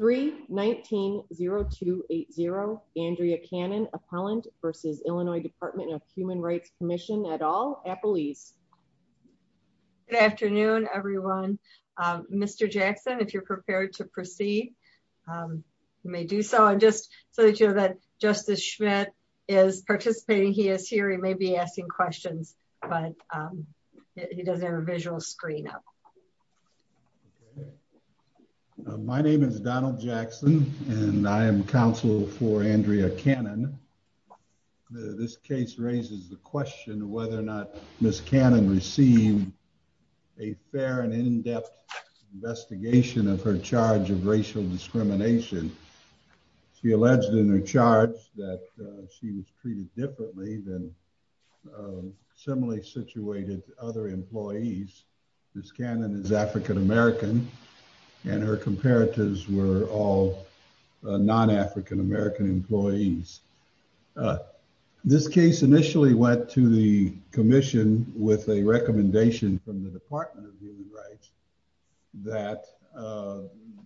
3190280 Andrea Cannon, Appellant v. Illinois Dept. of Human Rights Comm'n et al. Appelese. Good afternoon everyone. Mr. Jackson, if you're prepared to proceed, you may do so. And just so that you know that Justice Schmidt is participating, he is here. He may be asking questions, but he does have a visual screen up. My name is Donald Jackson and I am counsel for Andrea Cannon. This case raises the question whether or not Ms. Cannon received a fair and in-depth investigation of her charge of racial discrimination. She alleged in her charge that she was treated differently than similarly situated other employees. Ms. Cannon is African American and her comparatives were all non-African American employees. This case initially went to the Commission with a recommendation from the Department of Human Rights that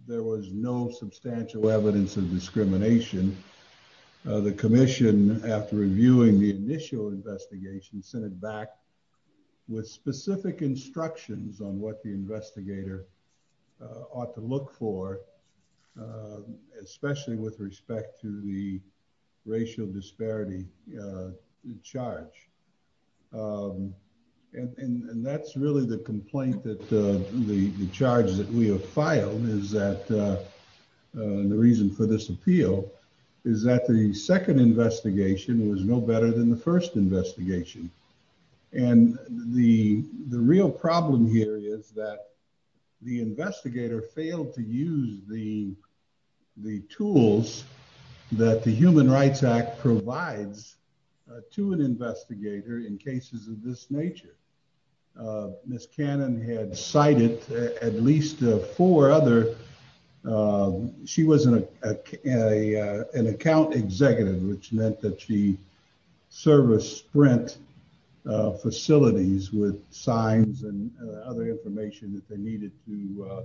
there was no substantial evidence of discrimination. The Commission, after reviewing the initial investigation, sent it back with specific instructions on what the investigator ought to look for, especially with respect to the racial disparity charge. And that's really the complaint that the charge that we have filed is that the reason for this appeal is that the second investigation was no better than the first investigation. And the real problem here is that the investigator failed to use the tools that the Human Rights Act provides to an investigator in cases of this at least four other. She was an account executive, which meant that she serviced Sprint facilities with signs and other information that they needed to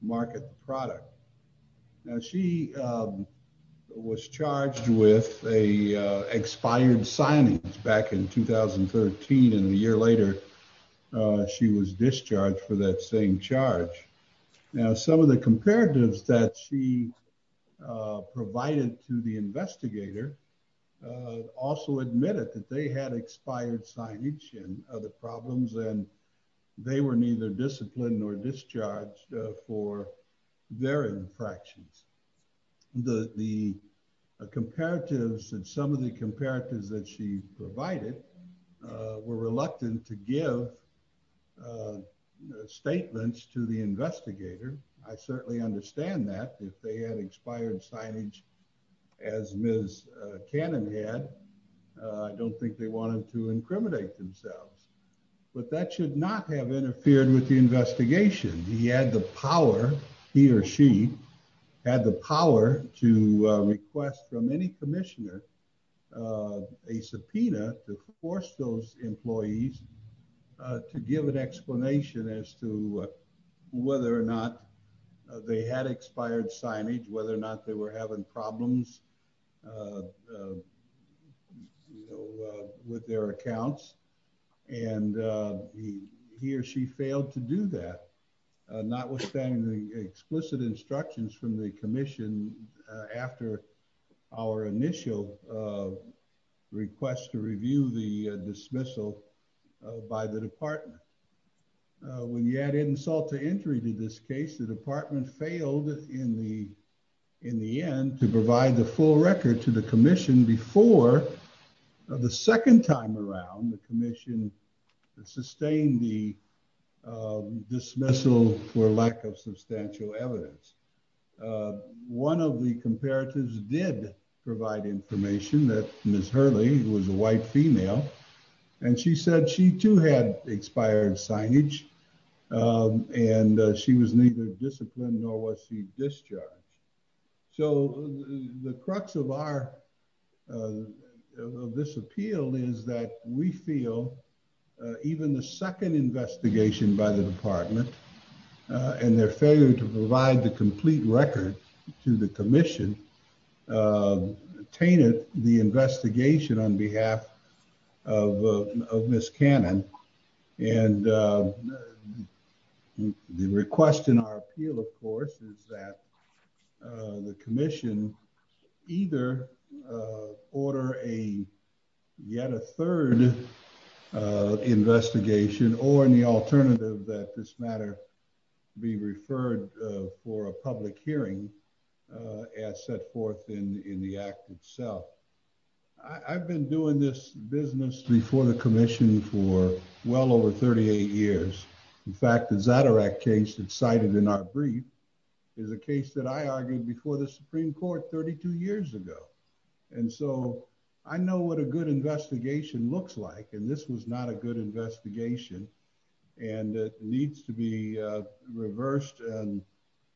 market the product. Now, she was charged with expired signings back in 2013. And a year later, she was discharged for that same charge. Now, some of the comparatives that she provided to the investigator also admitted that they had expired signage and other problems and they were neither disciplined nor discharged for their infractions. The comparatives and some of the comparatives that she provided were reluctant to give statements to the investigator. I certainly understand that if they had expired signage as Ms. Cannon had, I don't think they wanted to incriminate themselves. But that should not have interfered with the investigation. He had the a subpoena to force those employees to give an explanation as to whether or not they had expired signage, whether or not they were having problems with their accounts. And he or she failed to do that. Notwithstanding the explicit instructions from the commission after our initial request to review the dismissal by the department. When you add insult to injury to this case, the department failed in the end to provide the full record to the commission before the second time around the commission sustained the dismissal for lack of substantial evidence. One of the comparatives did provide information that Ms. Hurley was a white female and she said she too had expired signage and she was neither disciplined nor was she discharged. So the crux of this appeal is that we feel even the second investigation by the department and their failure to provide the complete record to the commission tainted the investigation on behalf of Ms. Cannon. And the request in our appeal of course is that the commission either order a yet a third investigation or in the alternative that this matter be referred for a public hearing as set forth in the act itself. I've been doing this business before the commission for well over 38 years. In fact, the Zadirac case that's cited in our brief is a case that I argued before the Supreme Court 32 years ago. And so I know what a good investigation looks like and this was not a good investigation and it needs to be reversed and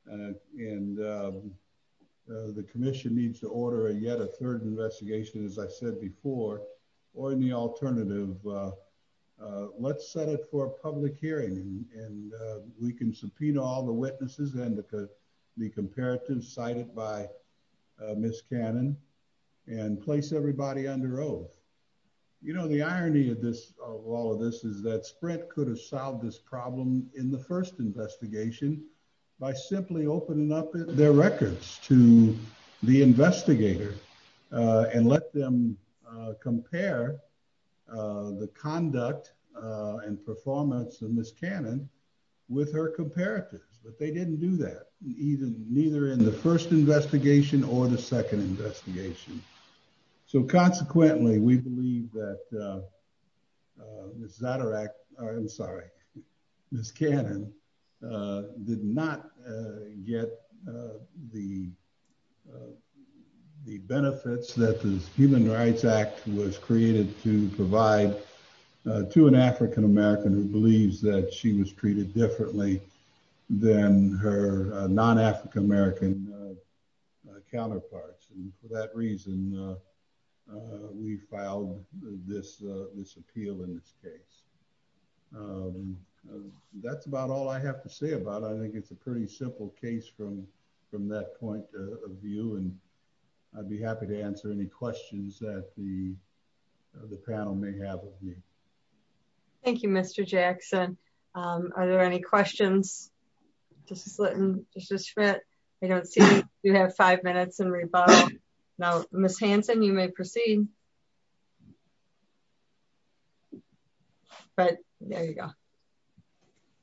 the commission needs to order a yet a third investigation as I said before or in the alternative. Let's set it for a public hearing and we can subpoena all the witnesses and the comparative cited by Ms. Cannon and place everybody under oath. You know the irony of this of all of this is that Sprint could have solved this problem in the first investigation by simply opening up their records to the investigator and let them compare the conduct and performance of Ms. Cannon with her comparatives. But they didn't do that either in the first investigation or the second investigation. So consequently we believe that Ms. Zadirac, I'm sorry, Ms. Cannon did not get the benefits that the Human Rights Act was created to provide to an African-American who believes that she was treated differently than her non-African-American counterparts. And for that reason we filed this appeal in this case. That's about all I have to say about it. I think it's a pretty simple case from that point of view and I'd be happy to answer any questions that the panel may have of me. Thank you Mr. Jackson. Are there any questions? Mrs. Litton, Mrs. Schmidt, I don't see you. You have five minutes and rebuttal. Now Ms. Hanson you may proceed. But there you go.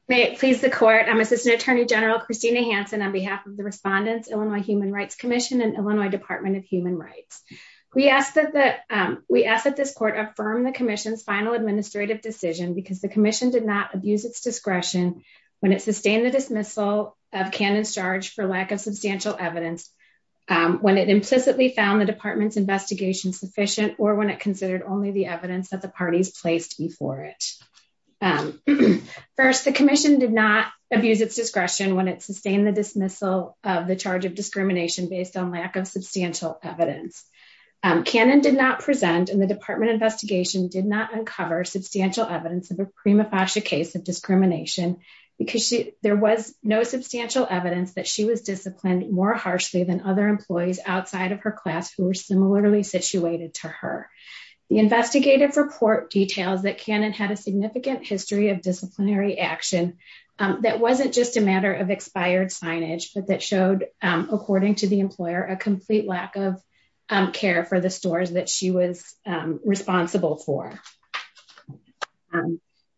May it please the court, I'm Assistant Attorney General Christina Hanson on the behalf of the respondents, Illinois Human Rights Commission and Illinois Department of Human Rights. We ask that this court affirm the commission's final administrative decision because the commission did not abuse its discretion when it sustained the dismissal of Cannon's charge for lack of substantial evidence when it implicitly found the department's investigation sufficient or when it considered only the evidence that the parties placed before it. First, the commission did not abuse its discretion when it sustained the dismissal of the charge of discrimination based on lack of substantial evidence. Cannon did not present and the department investigation did not uncover substantial evidence of a prima facie case of discrimination because there was no substantial evidence that she was disciplined more harshly than other employees outside of her class who were similarly situated to her. The investigative report details that Cannon had a significant history of disciplinary action that wasn't just a matter of expired signage but that showed according to the employer a complete lack of care for the stores that she was responsible for.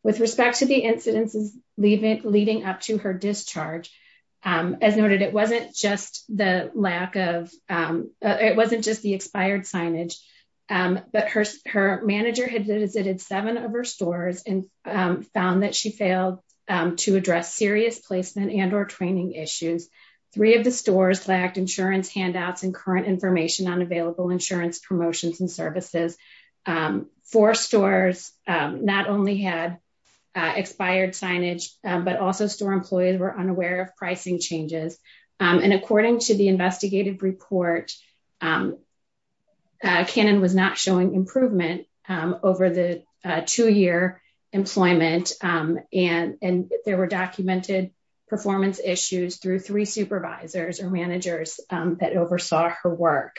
With respect to the incidences leading up to her of her stores and found that she failed to address serious placement and or training issues. Three of the stores lacked insurance handouts and current information on available insurance promotions and services. Four stores not only had expired signage but also store employees were unaware of pricing changes and according to the investigative report, Cannon was not showing improvement over the two-year employment and there were documented performance issues through three supervisors or managers that oversaw her work.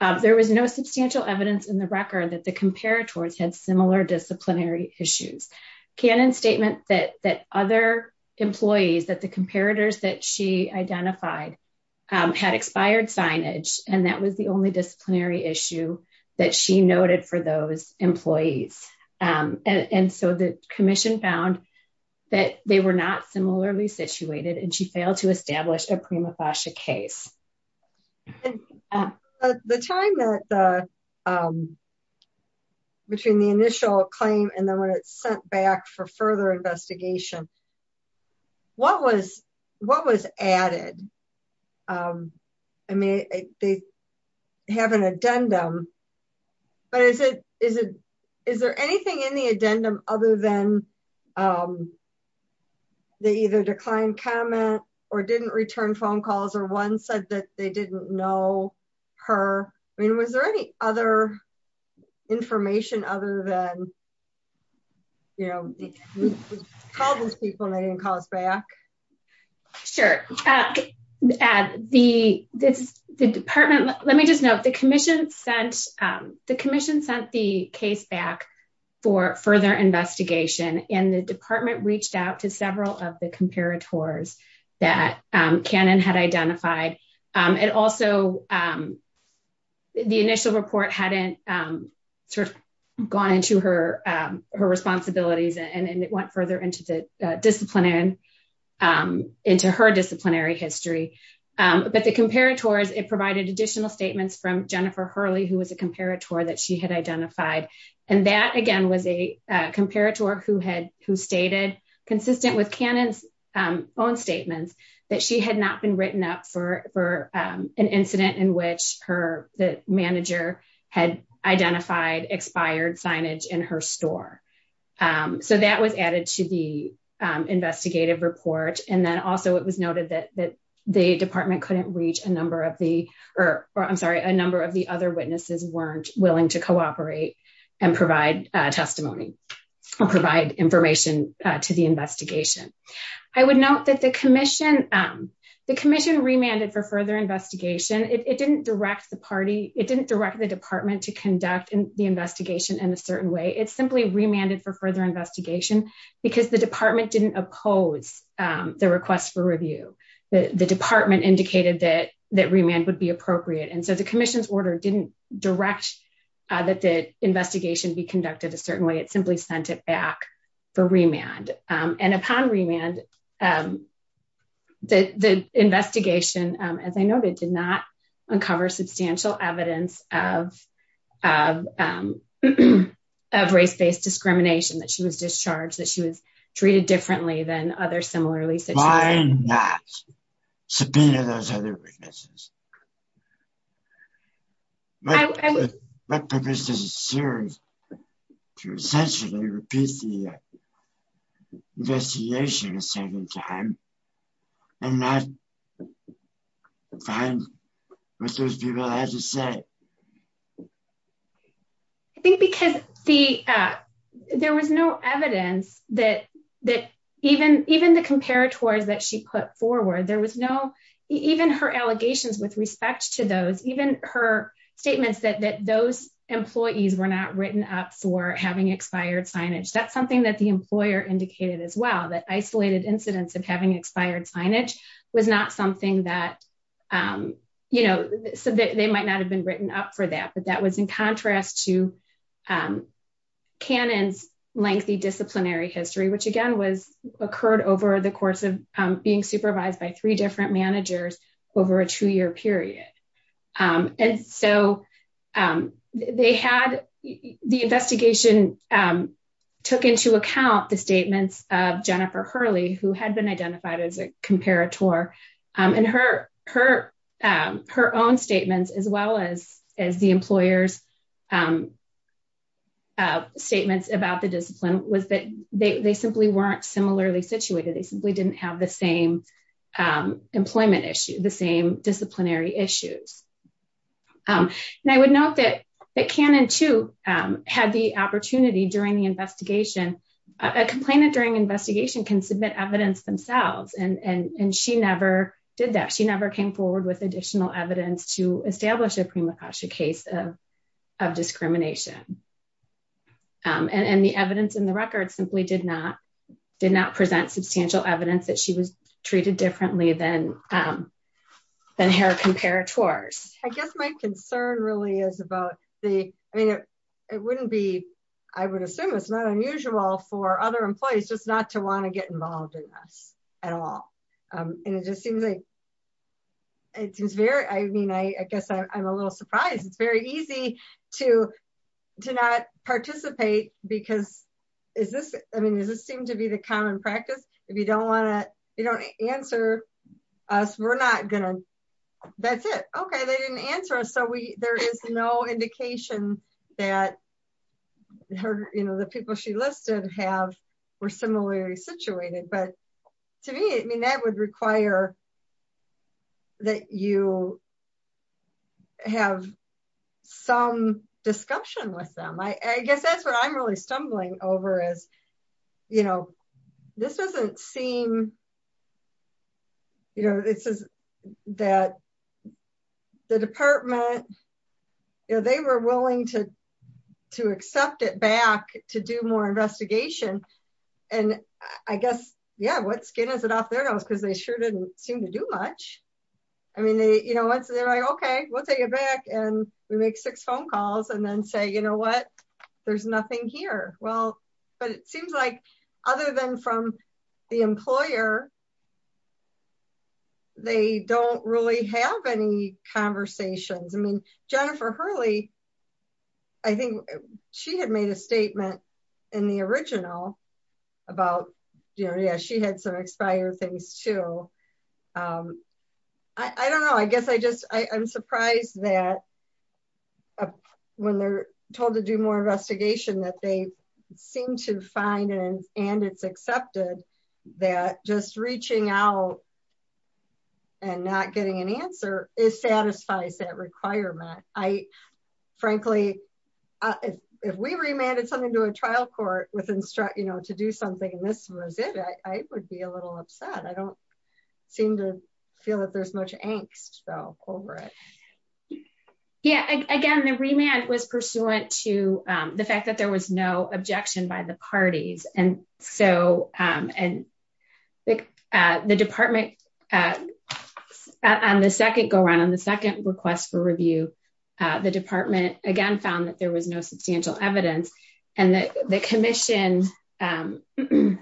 There was no substantial evidence in the record that the comparators had similar disciplinary issues. Cannon's statement that other employees that the comparators that she identified had expired signage and that was the only employees and so the commission found that they were not similarly situated and she failed to establish a prima facie case. The time that the um between the initial claim and then when it's sent back for further investigation what was what was added um I mean they have an addendum but is it is it is there anything in the addendum other than um they either declined comment or didn't return phone calls or one said that they didn't know her I mean was there any other information other than you know we called those people and they didn't call us back. Sure uh the this the department let me just note the commission sent um the commission sent the case back for further investigation and the department reached out to several of the comparators that um Cannon had identified um and also um the initial report hadn't um sort of to her um her responsibilities and it went further into the disciplinary um into her disciplinary history um but the comparators it provided additional statements from Jennifer Hurley who was a comparator that she had identified and that again was a uh comparator who had who stated consistent with Cannon's um own statements that she had not been written up for for um an incident in which her the manager had identified expired signage in her store um so that was added to the um investigative report and then also it was noted that that the department couldn't reach a number of the or I'm sorry a number of the other witnesses weren't willing to cooperate and provide uh testimony or provide information uh to the further investigation it didn't direct the party it didn't direct the department to conduct the investigation in a certain way it simply remanded for further investigation because the department didn't oppose um the request for review the the department indicated that that remand would be appropriate and so the commission's order didn't direct uh that the investigation be conducted a certain way it simply sent it back for remand um and upon remand um the the investigation um as I noted did not uncover substantial evidence of um of race-based discrimination that she was discharged that she was treated differently than other similarly why not subpoena those other witnesses what purpose does it serve to essentially repeat the investigation a second time and not find what those people had to say I think because the uh there was no evidence that that even even the comparators that she put forward there was no even her allegations with respect to those even her statements that that those employees were not written up for having expired signage that's something that employer indicated as well that isolated incidents of having expired signage was not something that um you know so they might not have been written up for that but that was in contrast to um cannon's lengthy disciplinary history which again was occurred over the course of being supervised by three different managers over a two-year period um and so um they had the investigation um took into account the statements of Jennifer Hurley who had been identified as a comparator um and her her um her own statements as well as as the employer's um statements about the discipline was that they simply weren't similarly situated they simply didn't have the same um employment issue the same disciplinary issues um and I would note that that cannon too um had the opportunity during the investigation a complainant during investigation can submit evidence themselves and and and she never did that she never came forward with additional evidence to establish a prima causa case of of discrimination um and and the evidence in the record simply did not did not present substantial evidence that she was treated differently than um than her comparators. I guess my concern really is about the I mean it it wouldn't be I would assume it's not unusual for other employees just not to want to get involved in this at all um and it just seems like it seems very I mean I I guess I'm a little surprised it's very easy to to not participate because is this I mean does this seem to be the common practice if you don't want to you don't answer us we're not gonna that's it okay they didn't answer us so we there is no indication that her you know the people she listed have were similarly situated but to me I mean that would require that you have some discussion with them I I guess that's what I'm really stumbling over is you know this doesn't seem you know this is that the department you know they were willing to to accept it back to do more investigation and I guess yeah what skin is it off their nose because they sure didn't seem to do much I mean they you know once they're like okay we'll take it back and we make six phone calls and then say you know what there's nothing here well but it seems like other than from the employer they don't really have any conversations I mean Jennifer Hurley I think she had made a statement in the original about you know yeah she had some expired things too um I I don't know I guess I just I I'm surprised that when they're told to do more investigation that they seem to find and and it's accepted that just reaching out and not getting an answer is satisfies that requirement I frankly if we remanded something to a trial court with instruct you know to do something and this was it I would be a little upset I don't seem to feel that there's much angst though over it yeah again the remand was pursuant to the fact that there was no objection by the parties and so um and the uh the department uh on the second go around on the second request for review the department again found that there was no substantial evidence and that the commission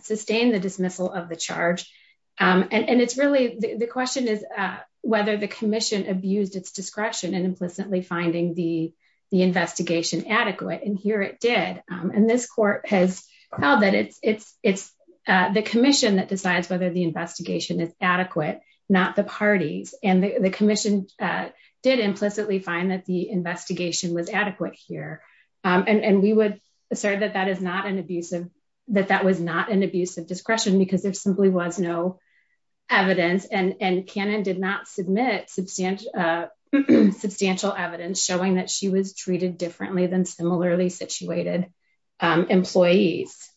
sustained the dismissal of the charge um and it's really the question is uh whether the commission abused its discretion and implicitly finding the the investigation adequate and here it did um and this court has held that it's it's it's uh the commission that decides whether the investigation is adequate not the parties and the commission uh did implicitly find that the investigation was adequate here um and and we would assert that that is not an abusive that that was not an abusive discretion because there simply was no evidence and and cannon did not submit substantial uh substantial evidence showing that she was treated differently than similarly situated um employees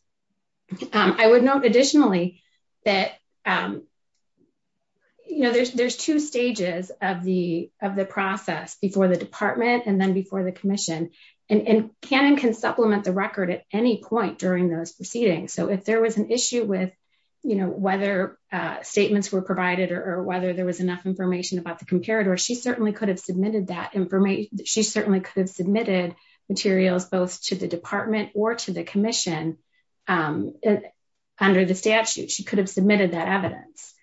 um I would note additionally that um you know there's there's two stages of the of the process before the department and then before the commission and and canon can supplement the record at any point during those proceedings so if there was an issue with you know whether uh statements were provided or whether there was enough information about the comparator she certainly could have submitted that information she certainly could have submitted materials both to the department or to the commission um under the statute she could have submitted that evidence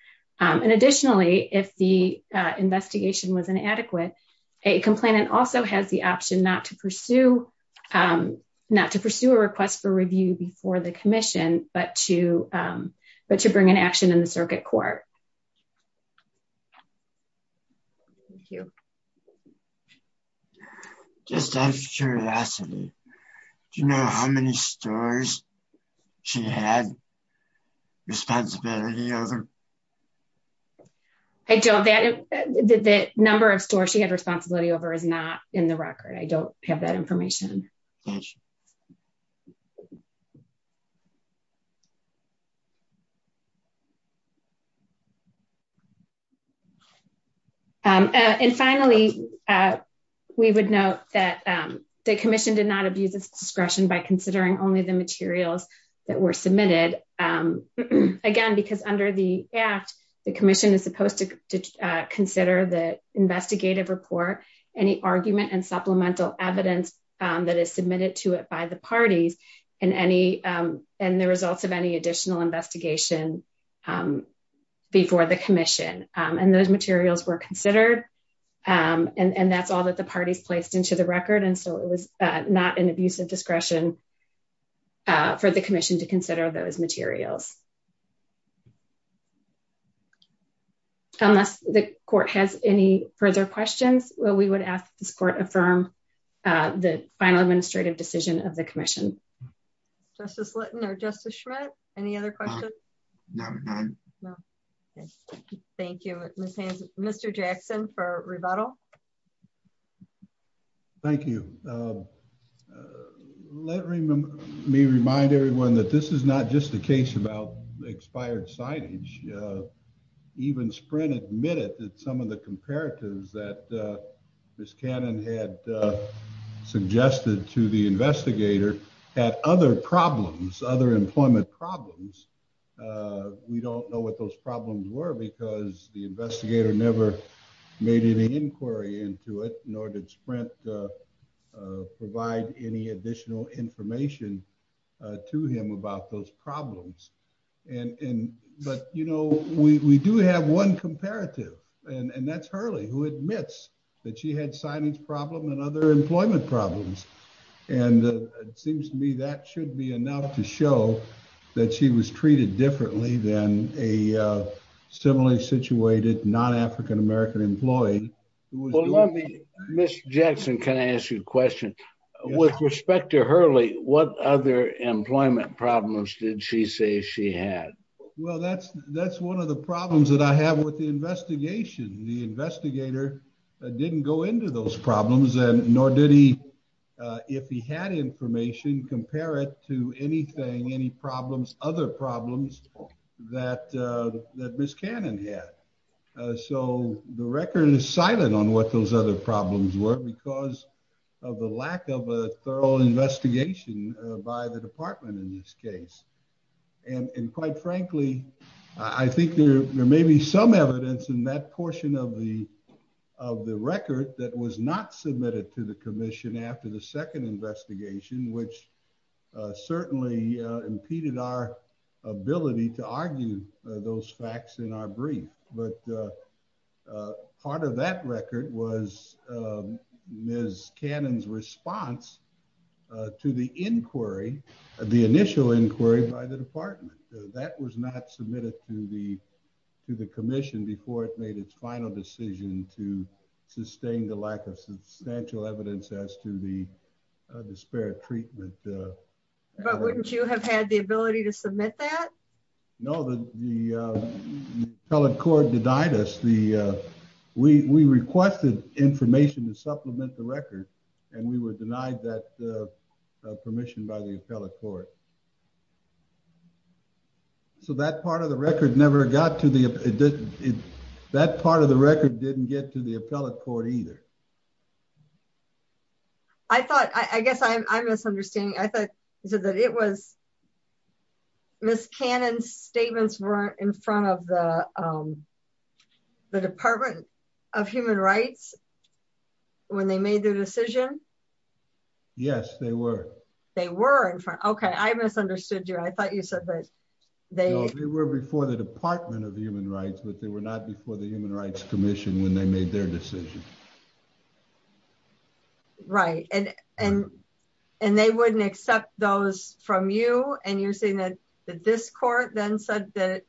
um and additionally if the uh investigation was inadequate a complainant also has the option not to pursue um not to pursue a request for review before the commission but to but to bring an action in the circuit court thank you just out of curiosity do you know how many stores she had responsibility over I don't that the number of stores she had responsibility over is not in the record I don't have that information um and finally uh we would note that um the commission did not abuse its discretion by considering only the materials that were submitted um again because under the act the commission is supposed to consider the investigative report any argument and supplemental evidence um that is submitted to it by the parties and any um and the results of any additional investigation um before the commission um and those materials were considered um and and that's all that the parties placed into the record and so it was not an abuse of discretion uh for the commission to consider those materials unless the court has any further questions well we would ask this court affirm uh the final administrative decision of the commission justice linton or justice schmidt any other questions thank you mr jackson for rebuttal thank you uh let me remind everyone that this is not just a case about expired signage uh even sprint admitted that some of the comparatives that uh miss cannon had suggested to the investigator had other problems other employment problems uh we don't know what those problems were because the investigator never made any inquiry into it nor did sprint uh any additional information uh to him about those problems and and but you know we we do have one comparative and and that's hurley who admits that she had signage problem and other employment problems and it seems to me that should be enough to show that she was treated differently than a with respect to hurley what other employment problems did she say she had well that's that's one of the problems that i have with the investigation the investigator didn't go into those problems and nor did he uh if he had information compare it to anything any problems other problems that uh that miss cannon had uh so the record is silent on what those other problems were because of the lack of a thorough investigation by the department in this case and and quite frankly i think there may be some evidence in that portion of the of the record that was not submitted to the commission after the second investigation which certainly impeded our ability to argue those facts in our brief but uh part of that record was miss cannon's response to the inquiry the initial inquiry by the department that was not submitted to the to the commission before it made its final decision to sustain the lack of substantial evidence as to the disparate treatment but wouldn't you have had the ability to submit that no the the appellate court denied us the uh we we requested information to supplement the record and we were denied that uh permission by the appellate court so that part of the record never got to the that part of the record didn't get to the appellate court either i thought i i guess i'm misunderstanding i thought he said that it was miss cannon's statements weren't in front of the um the department of human rights when they made their decision yes they were they were in front okay i misunderstood you i thought you said that they were before the department of human rights but they were not before the human rights commission when they made their decision right and and and they wouldn't accept those from you and you're saying that that this court then said that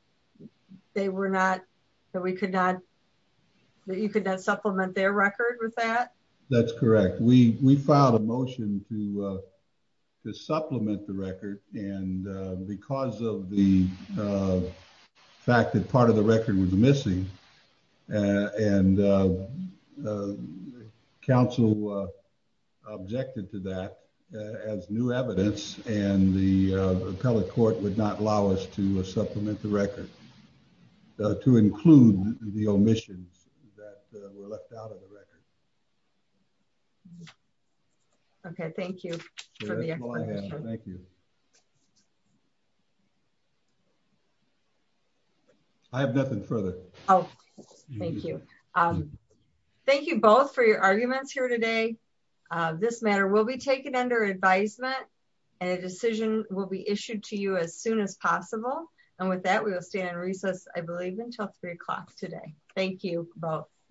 they were not that we could not that you could not supplement their record with that that's correct we we filed a motion to to supplement the record and because of the fact that part of the record was missing and the council objected to that as new evidence and the appellate court would not allow us to supplement the record to include the omissions that were left out of the record okay thank you for the explanation thank you you i have nothing further oh thank you um thank you both for your arguments here today uh this matter will be taken under advisement and a decision will be issued to you as soon as possible and with that we will stand in recess i believe until three o'clock today thank you both